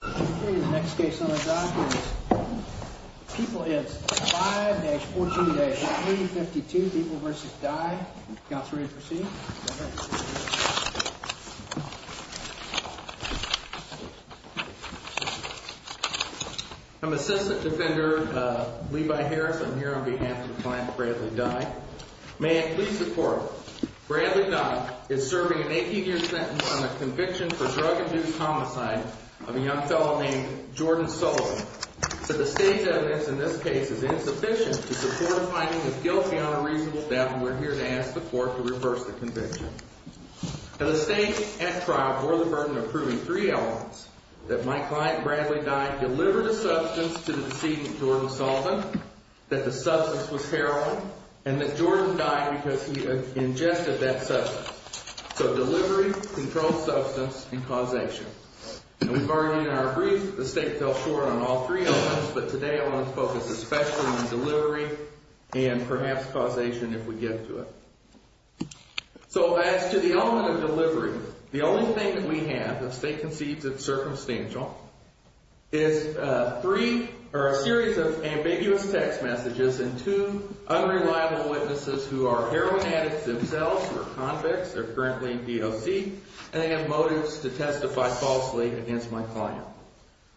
The next case on the dock is People v. Dye. People, it's 5-14-8, meeting 52, People v. Dye. Counselor, you ready to proceed? I'm Assistant Defender Levi Harris. I'm here on behalf of the client, Bradley Dye. May I please report, Bradley Dye is serving an 18-year sentence on the conviction for drug-induced homicide of a young fellow named Jordan Sullivan. The state's evidence in this case is insufficient to support a finding of guilty on a reasonable doubt, and we're here to ask the court to reverse the conviction. Now, the state, at trial, bore the burden of proving three elements, that my client, Bradley Dye, delivered a substance to the decedent, Jordan Sullivan, that the substance was heroin, and that Jordan died because he ingested that substance. So delivery, controlled substance, and causation. And we've already in our brief, the state fell short on all three elements, but today I want to focus especially on delivery and perhaps causation if we get to it. So as to the element of delivery, the only thing that we have, the state concedes it's circumstantial, is three, or a series of ambiguous text messages and two unreliable witnesses who are heroin addicts themselves, who are convicts, they're currently in DOC, and they have motives to testify falsely against my client.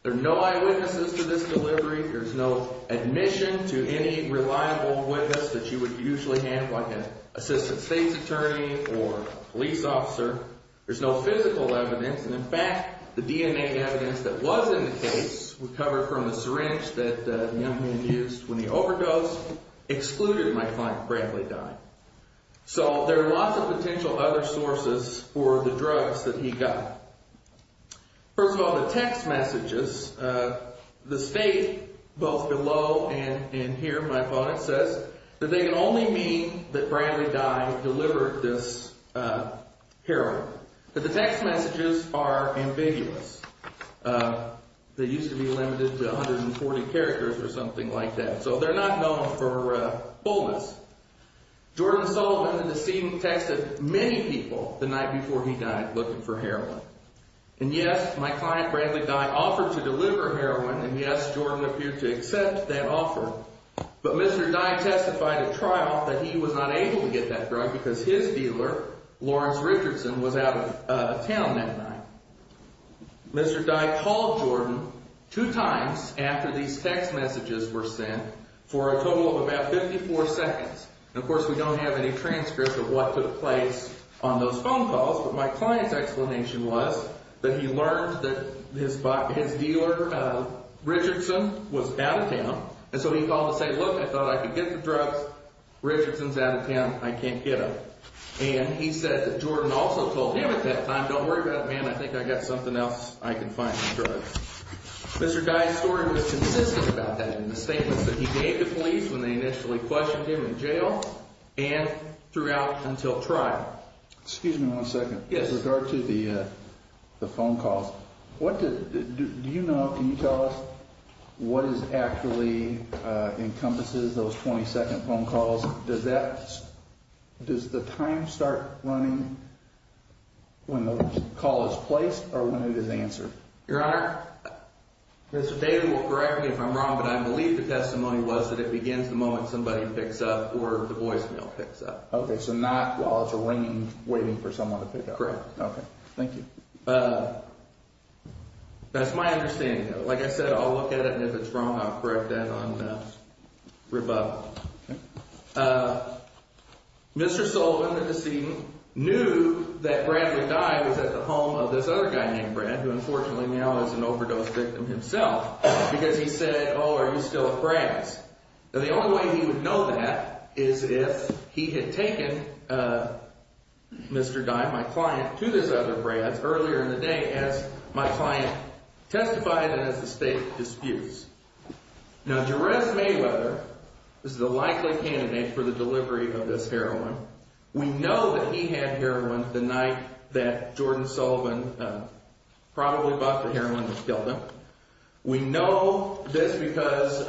There are no eyewitnesses to this delivery, there's no admission to any reliable witness that you would usually have, like an assistant state's attorney or police officer, there's no physical evidence, and in fact, the DNA evidence that was in the case, recovered from the syringe that the young man used when he overdosed, excluded my client, Bradley Dye. So there are lots of potential other sources for the drugs that he got. First of all, the text messages, the state, both below and here, my opponent, says that they can only mean that Bradley Dye delivered this heroin. But the text messages are ambiguous. They used to be limited to 140 characters or something like that, so they're not known for fullness. Jordan Sullivan in the scene texted many people the night before he died looking for heroin. And yes, my client, Bradley Dye, offered to deliver heroin, and yes, Jordan appeared to accept that offer. But Mr. Dye testified at trial that he was not able to get that drug because his dealer, Lawrence Richardson, was out of town that night. Mr. Dye called Jordan two times after these text messages were sent for a total of about 54 seconds. And of course, we don't have any transcripts of what took place on those phone calls, but my client's explanation was that he learned that his dealer, Richardson, was out of town. And so he called to say, look, I thought I could get the drugs. Richardson's out of town. I can't get them. And he said that Jordan also told him at that time, don't worry about it, man. I think I got something else I can find for drugs. Mr. Dye's story was consistent about that in the statements that he gave to police when they initially questioned him in jail and throughout until trial. Excuse me one second. In regard to the phone calls, do you know, can you tell us what actually encompasses those 20 second phone calls? Does the time start running when the call is placed or when it is answered? Your Honor, Mr. David will correct me if I'm wrong, but I believe the testimony was that it begins the moment somebody picks up or the voicemail picks up. OK, so not while it's ringing, waiting for someone to pick up. Correct. OK, thank you. That's my understanding. Like I said, I'll look at it and if it's wrong, I'll correct that on rebuttal. Mr. Sullivan, the decedent, knew that Bradley Dye was at the home of this other guy named Brad, who unfortunately now is an overdose victim himself, because he said, oh, are you still at Brad's? Now, the only way he would know that is if he had taken Mr. Dye, my client, to this other Brad's earlier in the day as my client testified and as the state disputes. Now, Jerez Mayweather is the likely candidate for the delivery of this heroin. We know that he had heroin the night that Jordan Sullivan probably bought the heroin and killed him. We know this because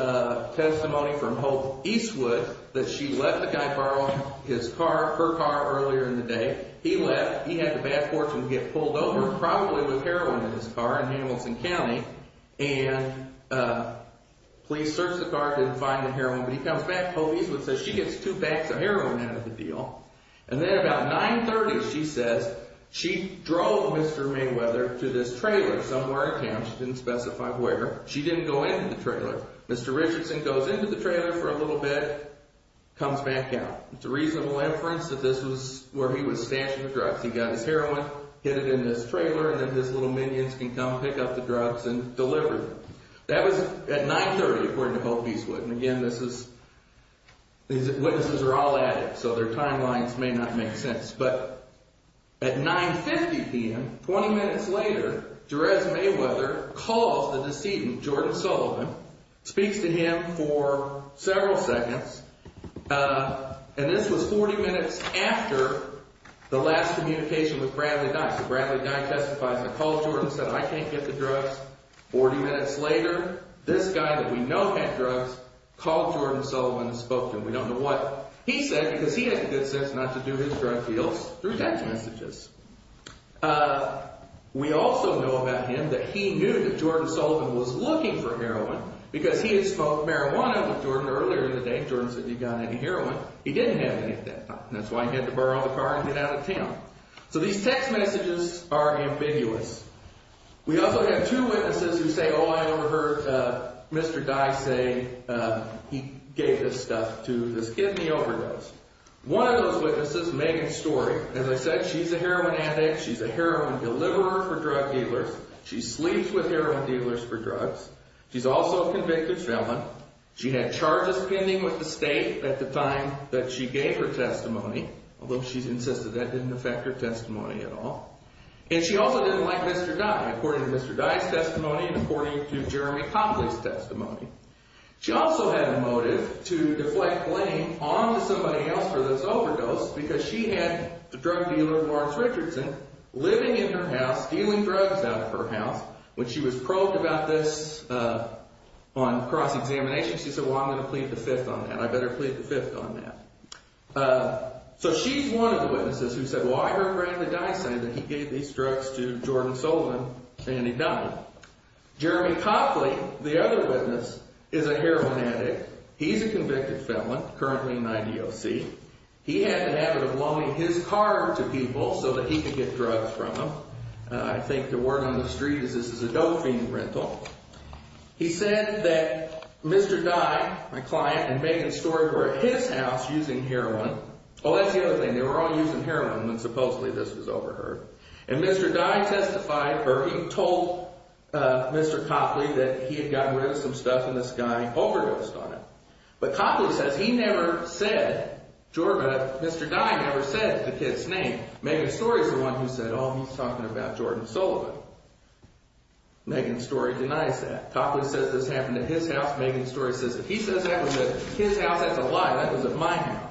testimony from Hope Eastwood that she left the guy borrowing his car, her car, earlier in the day. He left. He had the bad fortune to get pulled over, probably with heroin in his car, in Hamilton County. And police searched the car, didn't find the heroin. But he comes back. Hope Eastwood says she gets two bags of heroin out of the deal. And then about 9.30, she says, she drove Mr. Mayweather to this trailer somewhere in town. She didn't specify where. She didn't go into the trailer. Mr. Richardson goes into the trailer for a little bit, comes back out. It's a reasonable inference that this was where he was stashing the drugs. He got his heroin, hid it in this trailer, and then his little minions can come pick up the drugs and deliver them. That was at 9.30, according to Hope Eastwood. And again, this is – these witnesses are all addicts, so their timelines may not make sense. But at 9.50 p.m., 20 minutes later, Jerez Mayweather calls the decedent, Jordan Sullivan, speaks to him for several seconds. And this was 40 minutes after the last communication with Bradley Dye. So Bradley Dye testifies and calls Jordan and says, I can't get the drugs. Forty minutes later, this guy that we know had drugs called Jordan Sullivan and spoke to him. We don't know what he said because he had good sense not to do his drug deals through text messages. We also know about him that he knew that Jordan Sullivan was looking for heroin because he had smoked marijuana with Jordan earlier in the day. Jordan said he'd gotten into heroin. He didn't have any at that time. That's why he had to borrow the car and get out of town. So these text messages are ambiguous. We also have two witnesses who say, oh, I overheard Mr. Dye say he gave this stuff to this kidney overdose. One of those witnesses, Megan Story, as I said, she's a heroin addict. She's a heroin deliverer for drug dealers. She sleeps with heroin dealers for drugs. She's also a convicted felon. She had charges pending with the state at the time that she gave her testimony, although she insisted that didn't affect her testimony at all. And she also didn't like Mr. Dye, according to Mr. Dye's testimony and according to Jeremy Conley's testimony. She also had a motive to deflect blame onto somebody else for this overdose because she had a drug dealer, Lawrence Richardson, living in her house, stealing drugs out of her house. When she was probed about this on cross-examination, she said, well, I'm going to plead the fifth on that. I better plead the fifth on that. So she's one of the witnesses who said, well, I heard Brandon Dye say that he gave these drugs to Jordan Solon and he died. Jeremy Conley, the other witness, is a heroin addict. He's a convicted felon, currently in IDOC. He had the habit of loaning his car to people so that he could get drugs from them. I think the word on the street is this is a dope-fiend rental. He said that Mr. Dye, my client, and Megan Story were at his house using heroin. Oh, that's the other thing. They were all using heroin when supposedly this was overheard. And Mr. Dye testified or he told Mr. Copley that he had gotten rid of some stuff and this guy overdosed on it. But Copley says he never said, Mr. Dye never said the kid's name. Megan Story's the one who said, oh, he's talking about Jordan Solon. Megan Story denies that. Copley says this happened at his house. Megan Story says that he says that was at his house. That's a lie. That was at my house.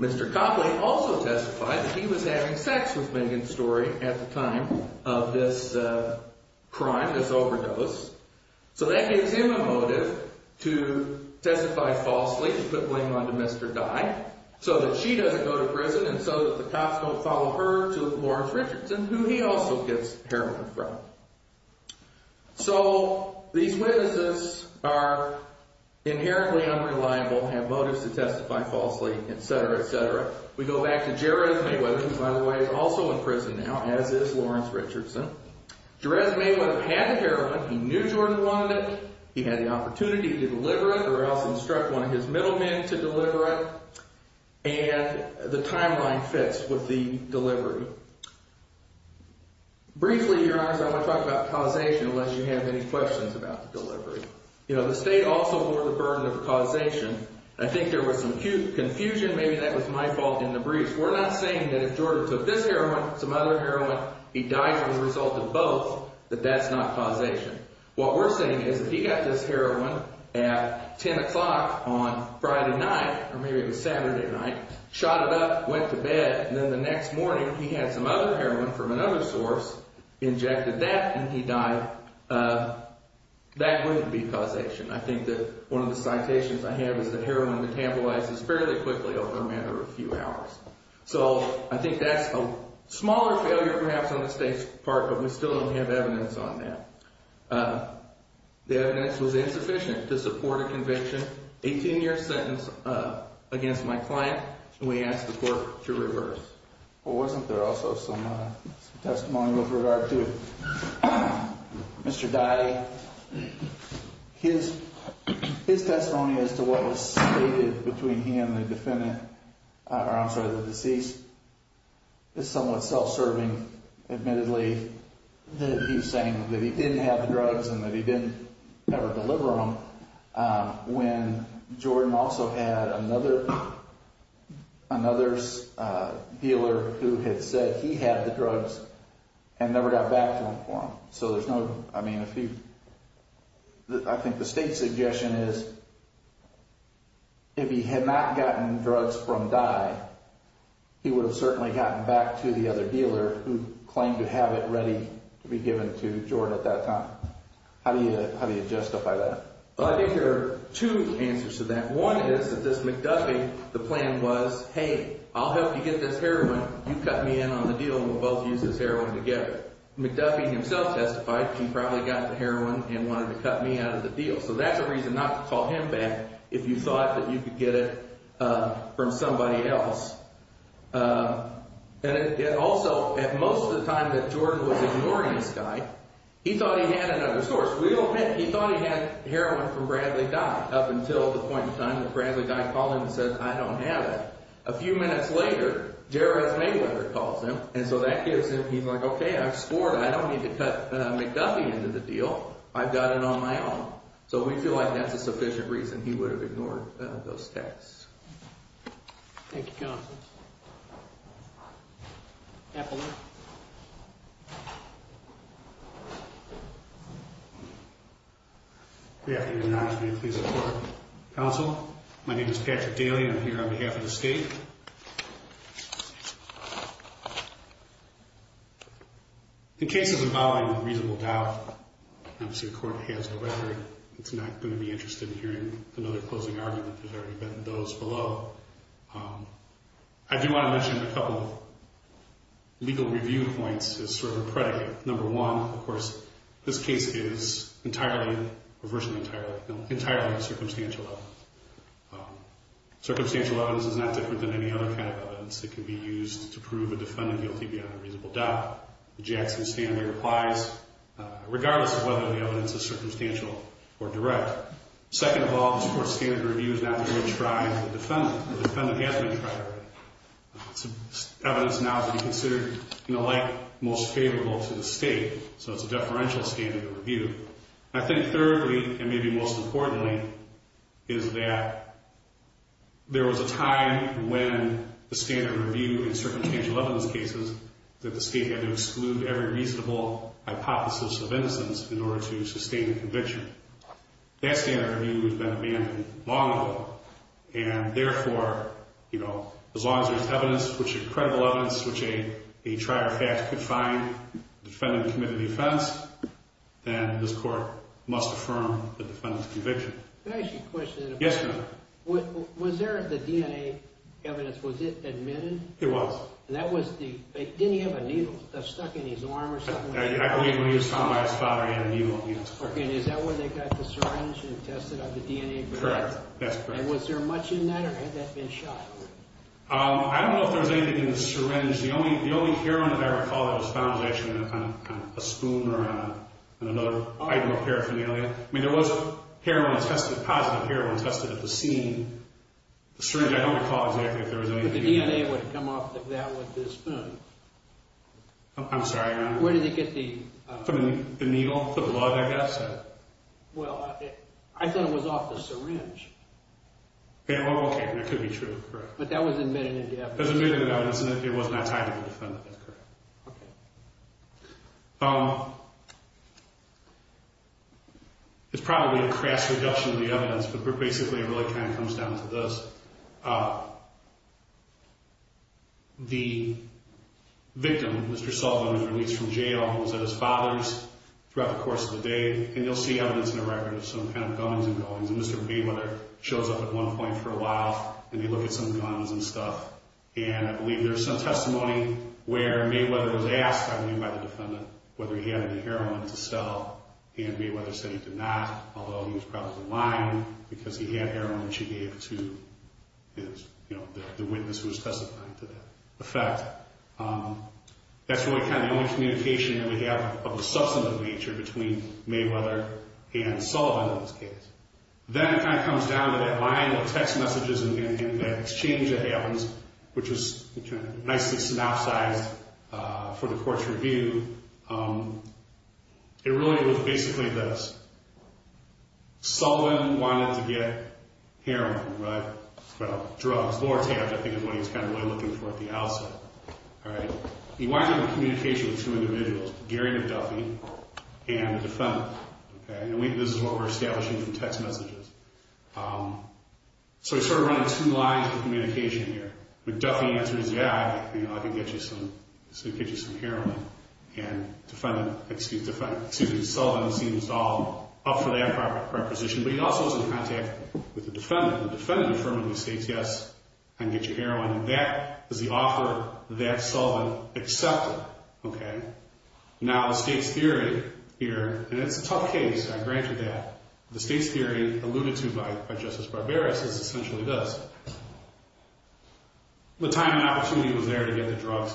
Mr. Copley also testified that he was having sex with Megan Story at the time of this crime, this overdose. So that gives him a motive to testify falsely to put blame onto Mr. Dye so that she doesn't go to prison and so that the cops don't follow her to Lawrence Richardson, who he also gets heroin from. So these witnesses are inherently unreliable, have motives to testify falsely, et cetera, et cetera. We go back to Jerez Mayweather, who, by the way, is also in prison now, as is Lawrence Richardson. Jerez Mayweather had the heroin. He knew Jordan wanted it. He had the opportunity to deliver it or else instruct one of his middlemen to deliver it. And the timeline fits with the delivery. Briefly, Your Honors, I want to talk about causation unless you have any questions about the delivery. The state also bore the burden of causation. I think there was some confusion. Maybe that was my fault in the briefs. We're not saying that if Jordan took this heroin, some other heroin, he dies as a result of both, that that's not causation. What we're saying is if he got this heroin at 10 o'clock on Friday night, or maybe it was Saturday night, shot it up, went to bed, and then the next morning he had some other heroin from another source, injected that, and he died, that wouldn't be causation. I think that one of the citations I have is that heroin metabolizes fairly quickly over a matter of a few hours. So I think that's a smaller failure perhaps on the state's part, but we still don't have evidence on that. The evidence was insufficient to support a conviction, 18-year sentence against my client, and we asked the court to reverse. Well, wasn't there also some testimony with regard to Mr. Dye? His testimony as to what was stated between him and the defendant, or I'm sorry, the deceased, is somewhat self-serving, admittedly, that he's saying that he didn't have the drugs and that he didn't ever deliver them, when Jordan also had another dealer who had said he had the drugs and never got back to them for him. I think the state's suggestion is if he had not gotten drugs from Dye, he would have certainly gotten back to the other dealer who claimed to have it ready to be given to Jordan at that time. How do you justify that? Well, I think there are two answers to that. One is that this McDuffie, the plan was, hey, I'll help you get this heroin. You cut me in on the deal and we'll both use this heroin together. McDuffie himself testified he probably got the heroin and wanted to cut me out of the deal. So that's a reason not to call him back if you thought that you could get it from somebody else. And also, at most of the time that Jordan was ignoring this guy, he thought he had another source. He thought he had heroin from Bradley Dye up until the point in time that Bradley Dye called him and said, I don't have it. A few minutes later, Jerez Mayweather calls him, and so that gives him, he's like, okay, I've scored. I don't need to cut McDuffie into the deal. I've got it on my own. So we feel like that's a sufficient reason he would have ignored those texts. Thank you, Counsel. Apollon. Good afternoon, Your Honor. May it please the Court. Counsel, my name is Patrick Daly. I'm here on behalf of the State. The case is involving reasonable doubt. Obviously, the Court has the record. It's not going to be interested in hearing another closing argument. There's already been those below. I do want to mention a couple of legal review points as sort of a predicate. Number one, of course, this case is entirely, or virtually entirely, entirely circumstantial. Circumstantial evidence is not different than any other kind of evidence that can be used to prove a defendant guilty beyond a reasonable doubt. The Jackson standard applies regardless of whether the evidence is circumstantial or direct. Second of all, the Court's standard review is not going to try the defendant. The defendant has been tried already. Evidence now can be considered, in a way, most favorable to the State. So it's a deferential standard of review. I think thirdly, and maybe most importantly, is that there was a time when the standard review in circumstantial evidence cases that the State had to exclude every reasonable hypothesis of innocence in order to sustain a conviction. That standard review has been abandoned long ago. And therefore, you know, as long as there's evidence, credible evidence, which a trier of facts could find, the defendant committed the offense, then this Court must affirm the defendant's conviction. Can I ask you a question? Yes, sir. Was there the DNA evidence, was it admitted? It was. And that was the, didn't he have a needle stuck in his arm or something? I believe when he was found by his father, he had a needle in his arm. Okay, and is that where they got the syringe and tested out the DNA? Correct. That's correct. And was there much in that or had that been shot? I don't know if there was anything in the syringe. The only heroin that I recall that was found was actually on a spoon or on another item of paraphernalia. I mean, there was heroin tested, positive heroin tested at the scene. The syringe, I don't recall exactly if there was anything in it. But the DNA would have come off of that with the spoon. I'm sorry, Your Honor. Where did they get the... From the needle, the blood, I guess. Well, I thought it was off the syringe. Okay, that could be true. But that was admitted in the evidence. It was admitted in the evidence and it was not tied to the defendant. That's correct. Okay. It's probably a crass reduction of the evidence, but basically it really kind of comes down to this. The victim, Mr. Sullivan, was released from jail. He was at his father's throughout the course of the day. And you'll see evidence in the record of some kind of gunnings and gullings. And Mr. Mayweather shows up at one point for a while and they look at some guns and stuff. And I believe there's some testimony where Mayweather was asked, I believe by the defendant, whether he had any heroin to sell. And Mayweather said he did not, although he was probably lying because he had heroin which he gave to his father. The witness was testifying to that. In fact, that's really kind of the only communication that we have of the substantive nature between Mayweather and Sullivan in this case. Then it kind of comes down to that line of text messages and the exchange that happens, which was nicely synopsized for the court's review. It really was basically this. Heroin, right? Well, drugs. Lorotabs, I think, is what he was really looking for at the outset. He winds up in communication with two individuals, Gary McDuffie and the defendant. And this is what we're establishing from text messages. So he's sort of running two lines of communication here. McDuffie answers, yeah, I can get you some heroin. And Sullivan seems all up for that proposition. But he also is in contact with the defendant. The defendant affirmatively states, yes, I can get you heroin. And that is the offer that Sullivan accepted. Now the state's theory here, and it's a tough case, I grant you that. The state's theory alluded to by Justice Barbera is essentially this. The time and opportunity was there to get the drugs.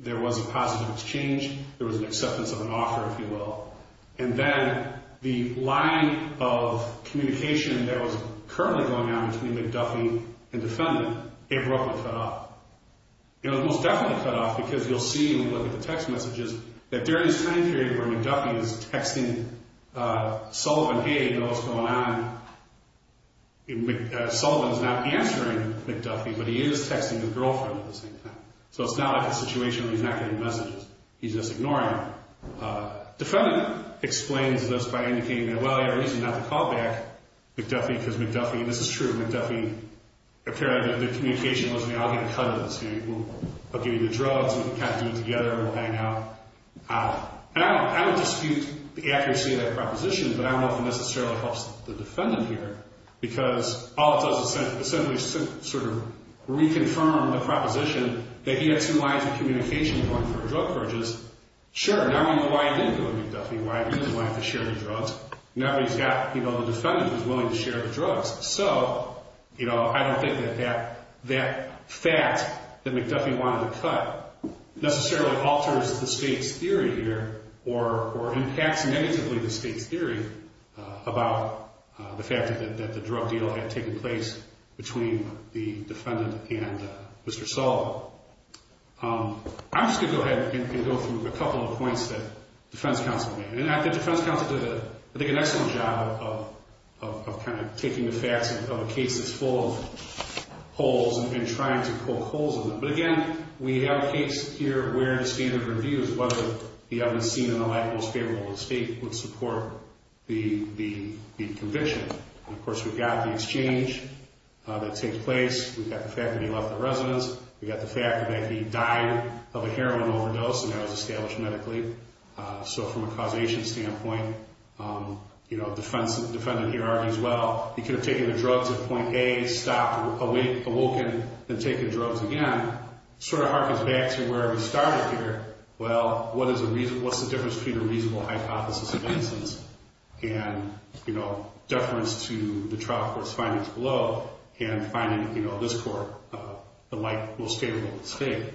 There was a positive exchange. There was an acceptance of an offer, if you will. And then the line of communication that was currently going on between McDuffie and the defendant abruptly cut off. It was most definitely cut off because you'll see when you look at the text messages that during this time period where McDuffie is texting Sullivan, hey, what's going on? Sullivan's not answering McDuffie, but he is texting his girlfriend at the same time. So it's not like a situation where he's not getting messages. He's just ignoring them. Defendant explains this by indicating that, well, you have a reason not to call back McDuffie because McDuffie, and this is true, McDuffie apparently the communication wasn't going to cut it. I'll give you the drugs and we can kind of do it together and hang out. And I would dispute the accuracy of that proposition, but I don't know if it necessarily helps the defendant here because all it does is essentially sort of reconfirm the proposition that he had two lines of communication going for drug purges. Sure, now we know why he didn't go to McDuffie, why he didn't want to share the drugs. Now he's got, you know, the defendant who's willing to share the drugs. So, you know, I don't think that that fact that McDuffie wanted to cut necessarily alters the state's theory here or impacts negatively the state's theory about the fact that the drug deal had taken place between the defendant and Mr. Sullivan. I'm just going to go ahead and go through a couple of points that defense counsel made. And I think defense counsel did, I think, an excellent job of kind of taking the facts of a case that's full of holes and trying to poke holes in them. But again, we have a case here where the standard review is whether the evidence seen in the light most favorable to the state would support the conviction. And of course, we've got the exchange that takes place. We've got the fact that he left the residence. We've got the fact that he died of a heroin overdose and that was established medically. So from a causation standpoint, you know, the defendant here argues, well, he could have taken the drugs at point A, stopped, awoken, and taken drugs again. Sort of harkens back to where we started here. Well, what is the reason, what's the difference between a reasonable hypothesis of innocence and, you know, deference to the trial court's findings below and finding, you know, this court the light most favorable to the state.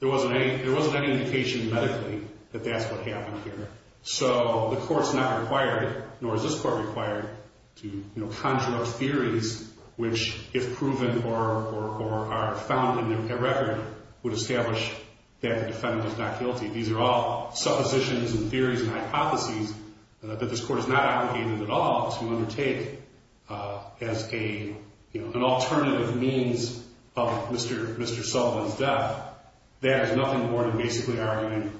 There wasn't any indication medically that that's what happened here. So the court's not required, nor is this court required, to, you know, conjure up theories which, if proven or are found in their record, would establish that the defendant is not guilty. These are all suppositions and theories and hypotheses that this court is not obligated at all to undertake as a, you know, an alternative means of Mr. Sullivan's death. That is nothing more than basically arguing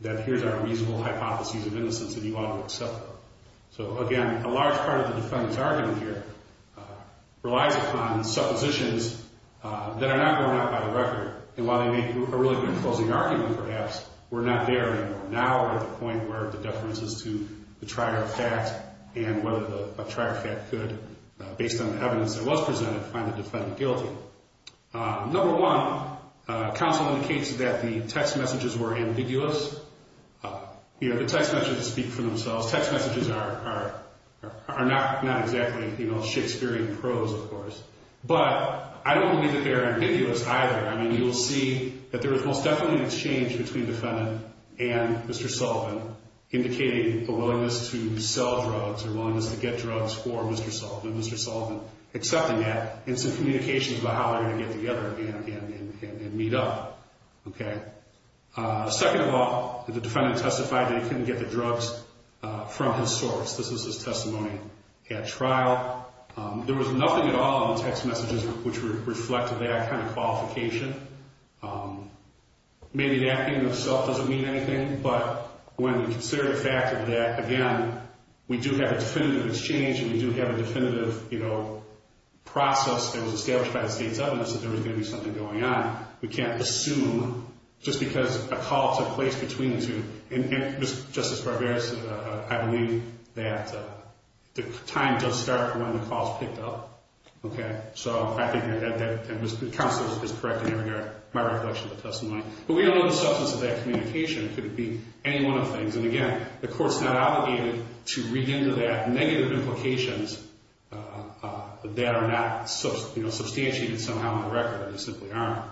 that here's our reasonable hypothesis of innocence and you ought to accept it. So again, a large part of the defendant's argument here relies upon suppositions that are not going out by the record. And while they make a really good closing argument, perhaps, we're not there anymore. Now we're at the point where the deference is to the trier fact and whether the trier fact could, based on the evidence that was presented, find the defendant guilty. Number one, counsel indicates that the text messages were ambiguous. You know, the text messages speak for themselves. Text messages are not exactly, you know, Shakespearean prose, of course. But I don't believe that they are ambiguous either. I mean, you will see that there is most definitely an exchange between the defendant and Mr. Sullivan, indicating the willingness to sell drugs or willingness to get drugs for Mr. Sullivan, Mr. Sullivan accepting that, and some communications about how they're going to get together and meet up. Okay. Second of all, the defendant testified that he couldn't get the drugs from his source. This is his testimony at trial. There was nothing at all in the text messages which reflected that kind of qualification. Maybe that in and of itself doesn't mean anything. But when we consider the fact that, again, we do have a definitive exchange and we do have a definitive, you know, process that was established by the state's evidence that there was going to be something going on, we can't assume just because a call took place between the two. And, Justice Barberas, I believe that the time does start when the calls picked up. Okay. So I think that counsel is correct in every area, my recollection of the testimony. But we don't know the substance of that communication. It could be any one of the things. And, again, the court's not obligated to read into that negative implications that are not, you know, substantiated somehow in the record. They simply aren't.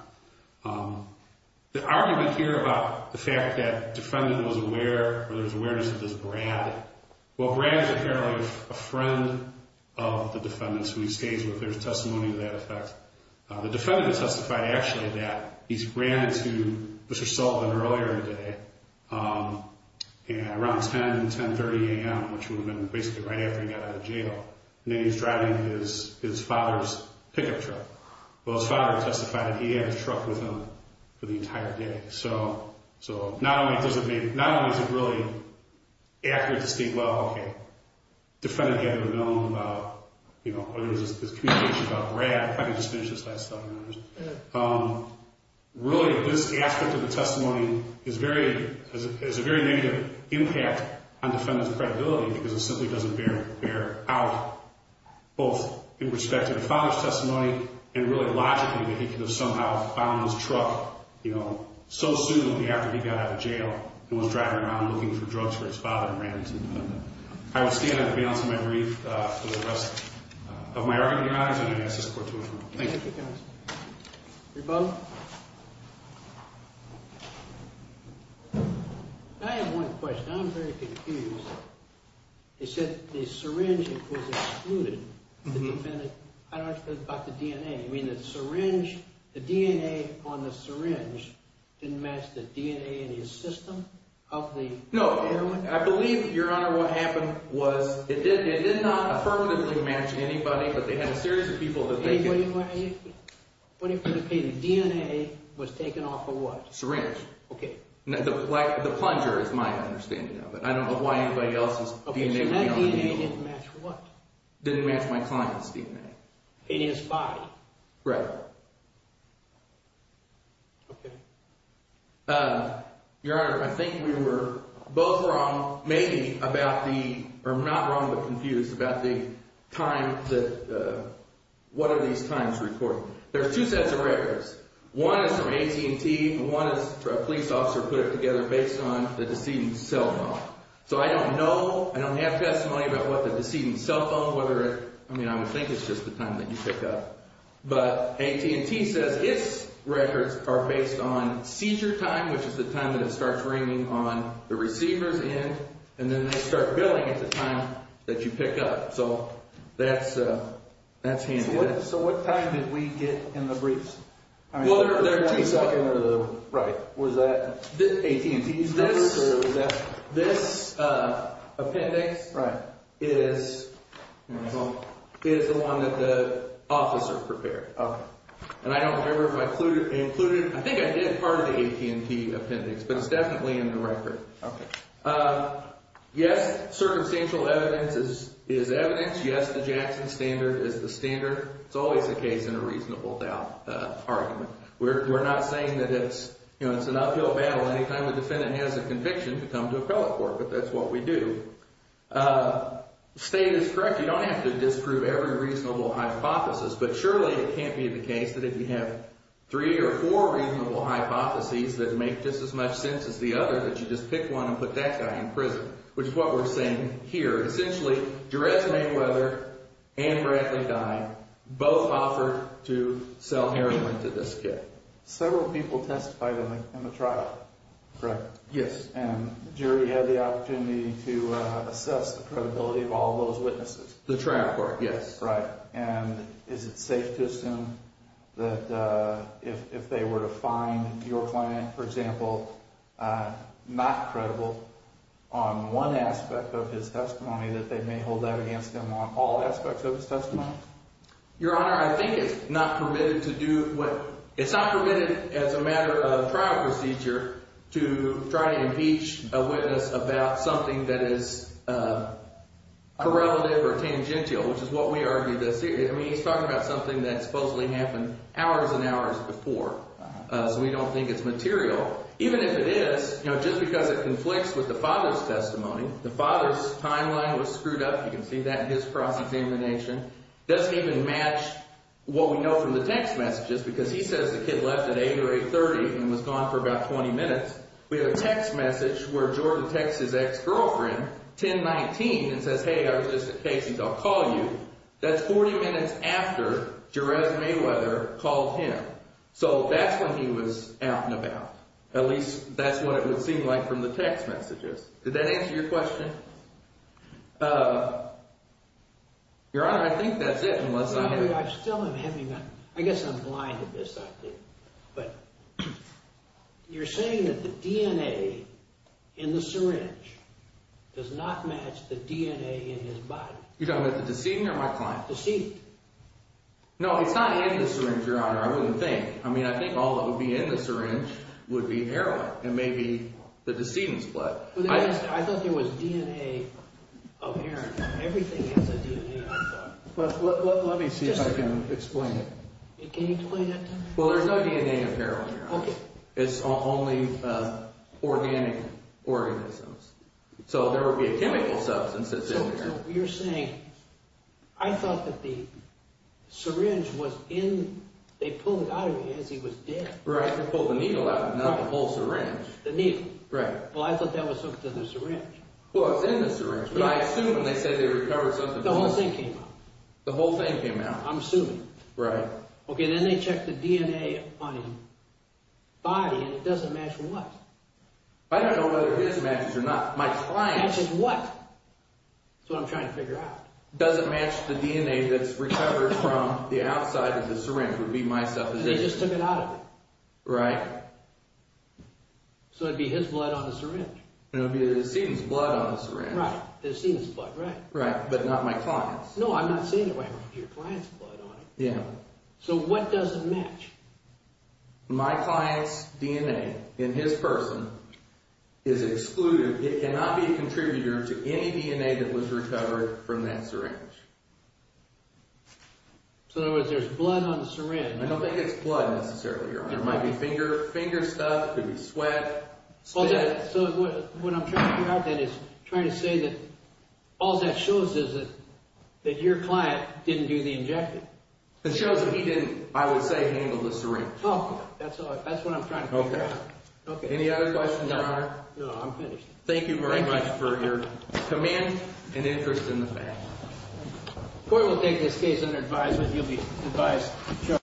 The argument here about the fact that the defendant was aware or there was awareness of this Brad, well, Brad is apparently a friend of the defendant's who he stays with. There's testimony to that effect. The defendant has testified actually that he ran into Mr. Sullivan earlier today around 10, 10.30 a.m., which would have been basically right after he got out of jail. And then he was driving his father's pickup truck. Well, his father testified that he had his truck with him for the entire day. So not only does it make – not only is it really accurate to state, well, okay, the defendant had to have known about, you know, whether it was his communication about Brad, if I could just finish this last thought. Really, this aspect of the testimony is very – is a very negative impact on defendant's credibility because it simply doesn't bear out both in respect to the father's testimony and really logically that he could have somehow found his truck, you know, so soon after he got out of jail and was driving around looking for drugs for his father and ran into the defendant. I will stand at the balance of my brief for the rest of my argument. Your Honor, I'm going to ask this court to adjourn. Thank you. Thank you, counsel. Rebuttal. I have one question. I'm very confused. They said the syringe was excluded. The defendant – I don't understand about the DNA. You mean the syringe – the DNA on the syringe didn't match the DNA in his system of the – No. I believe, Your Honor, what happened was it did not affirmatively match anybody, but they had a series of people that they could – Wait a minute. Okay, the DNA was taken off of what? Syringe. Okay. The plunger is my understanding of it. I don't know why anybody else's DNA would be on the needle. Okay, so that DNA didn't match what? Didn't match my client's DNA. In his body. Right. Okay. Your Honor, I think we were both wrong, maybe, about the – or not wrong but confused about the time that – what are these times reported? There are two sets of records. One is from AT&T and one is a police officer put it together based on the deceiving cell phone. So I don't know, I don't have testimony about what the deceiving cell phone, whether it – I mean, I would think it's just the time that you pick up. But AT&T says its records are based on seizure time, which is the time that it starts ringing on the receiver's end, and then they start billing at the time that you pick up. So that's handled. So what time did we get in the briefs? Well, there are two sets. Was that AT&T's records or was that – This appendix is the one that the officer prepared. Okay. And I don't remember if I included – I think I did part of the AT&T appendix, but it's definitely in the record. Okay. Yes, circumstantial evidence is evidence. Yes, the Jackson standard is the standard. It's always the case in a reasonable doubt argument. We're not saying that it's, you know, it's an uphill battle. Anytime the defendant has a conviction, you come to appellate for it. But that's what we do. State is correct. You don't have to disprove every reasonable hypothesis. But surely it can't be the case that if you have three or four reasonable hypotheses that make just as much sense as the other that you just pick one and put that guy in prison, which is what we're saying here. Essentially, Jerez Mayweather and Bradley Dine both offered to sell heroin to this guy. Several people testified in the trial. Correct. Yes. And the jury had the opportunity to assess the credibility of all those witnesses. The trial court, yes. Right. And is it safe to assume that if they were to find your client, for example, not credible on one aspect of his testimony, that they may hold that against him on all aspects of his testimony? Your Honor, I think it's not permitted to do what – it's not permitted as a matter of trial procedure to try to impeach a witness about something that is correlative or tangential, which is what we argue this here. I mean, he's talking about something that supposedly happened hours and hours before. So we don't think it's material. Even if it is, just because it conflicts with the father's testimony, the father's timeline was screwed up. You can see that in his cross-examination. It doesn't even match what we know from the text messages because he says the kid left at 8 or 8.30 and was gone for about 20 minutes. We have a text message where Jordan texts his ex-girlfriend, 10.19, and says, hey, I was just at Casey's, I'll call you. That's 40 minutes after Jerez Mayweather called him. So that's when he was out and about. At least that's what it would seem like from the text messages. Did that answer your question? Your Honor, I think that's it, unless I'm – No, I still am having – I guess I'm blind at this, I think. But you're saying that the DNA in the syringe does not match the DNA in his body. You're talking about the deceit or my client? Deceit. No, it's not in the syringe, Your Honor, I wouldn't think. I mean, I think all that would be in the syringe would be heroin and maybe the decedent's blood. I thought there was DNA of heroin. Everything has a DNA, I thought. Let me see if I can explain it. Can you explain that to me? Well, there's no DNA of heroin, Your Honor. Okay. So there would be a chemical substance that's in there. So you're saying – I thought that the syringe was in – they pulled it out of him as he was dead. Right, they pulled the needle out, not the whole syringe. The needle. Right. Well, I thought that was hooked to the syringe. Well, it was in the syringe, but I assume when they said they recovered something – The whole thing came out. The whole thing came out. I'm assuming. Right. Okay, then they checked the DNA on his body and it doesn't match what? I don't know whether it does match or not. My client – Matches what? That's what I'm trying to figure out. Does it match the DNA that's recovered from the outside of the syringe would be my supposition. They just took it out of him. Right. So it would be his blood on the syringe. It would be the decedent's blood on the syringe. Right, the decedent's blood, right. Right, but not my client's. No, I'm not saying it would have your client's blood on it. Yeah. So what doesn't match? My client's DNA in his person is excluded. It cannot be a contributor to any DNA that was recovered from that syringe. So in other words, there's blood on the syringe. I don't think it's blood necessarily, Your Honor. It might be finger stuff. It could be sweat. So what I'm trying to figure out then is trying to say that all that shows is that your client didn't do the injection. It shows that he didn't, I would say, handle the syringe. Oh, that's what I'm trying to figure out. Okay. Any other questions, Your Honor? No, I'm finished. Thank you very much for your command and interest in the fact. Court will take this case under advisement. You'll be advised.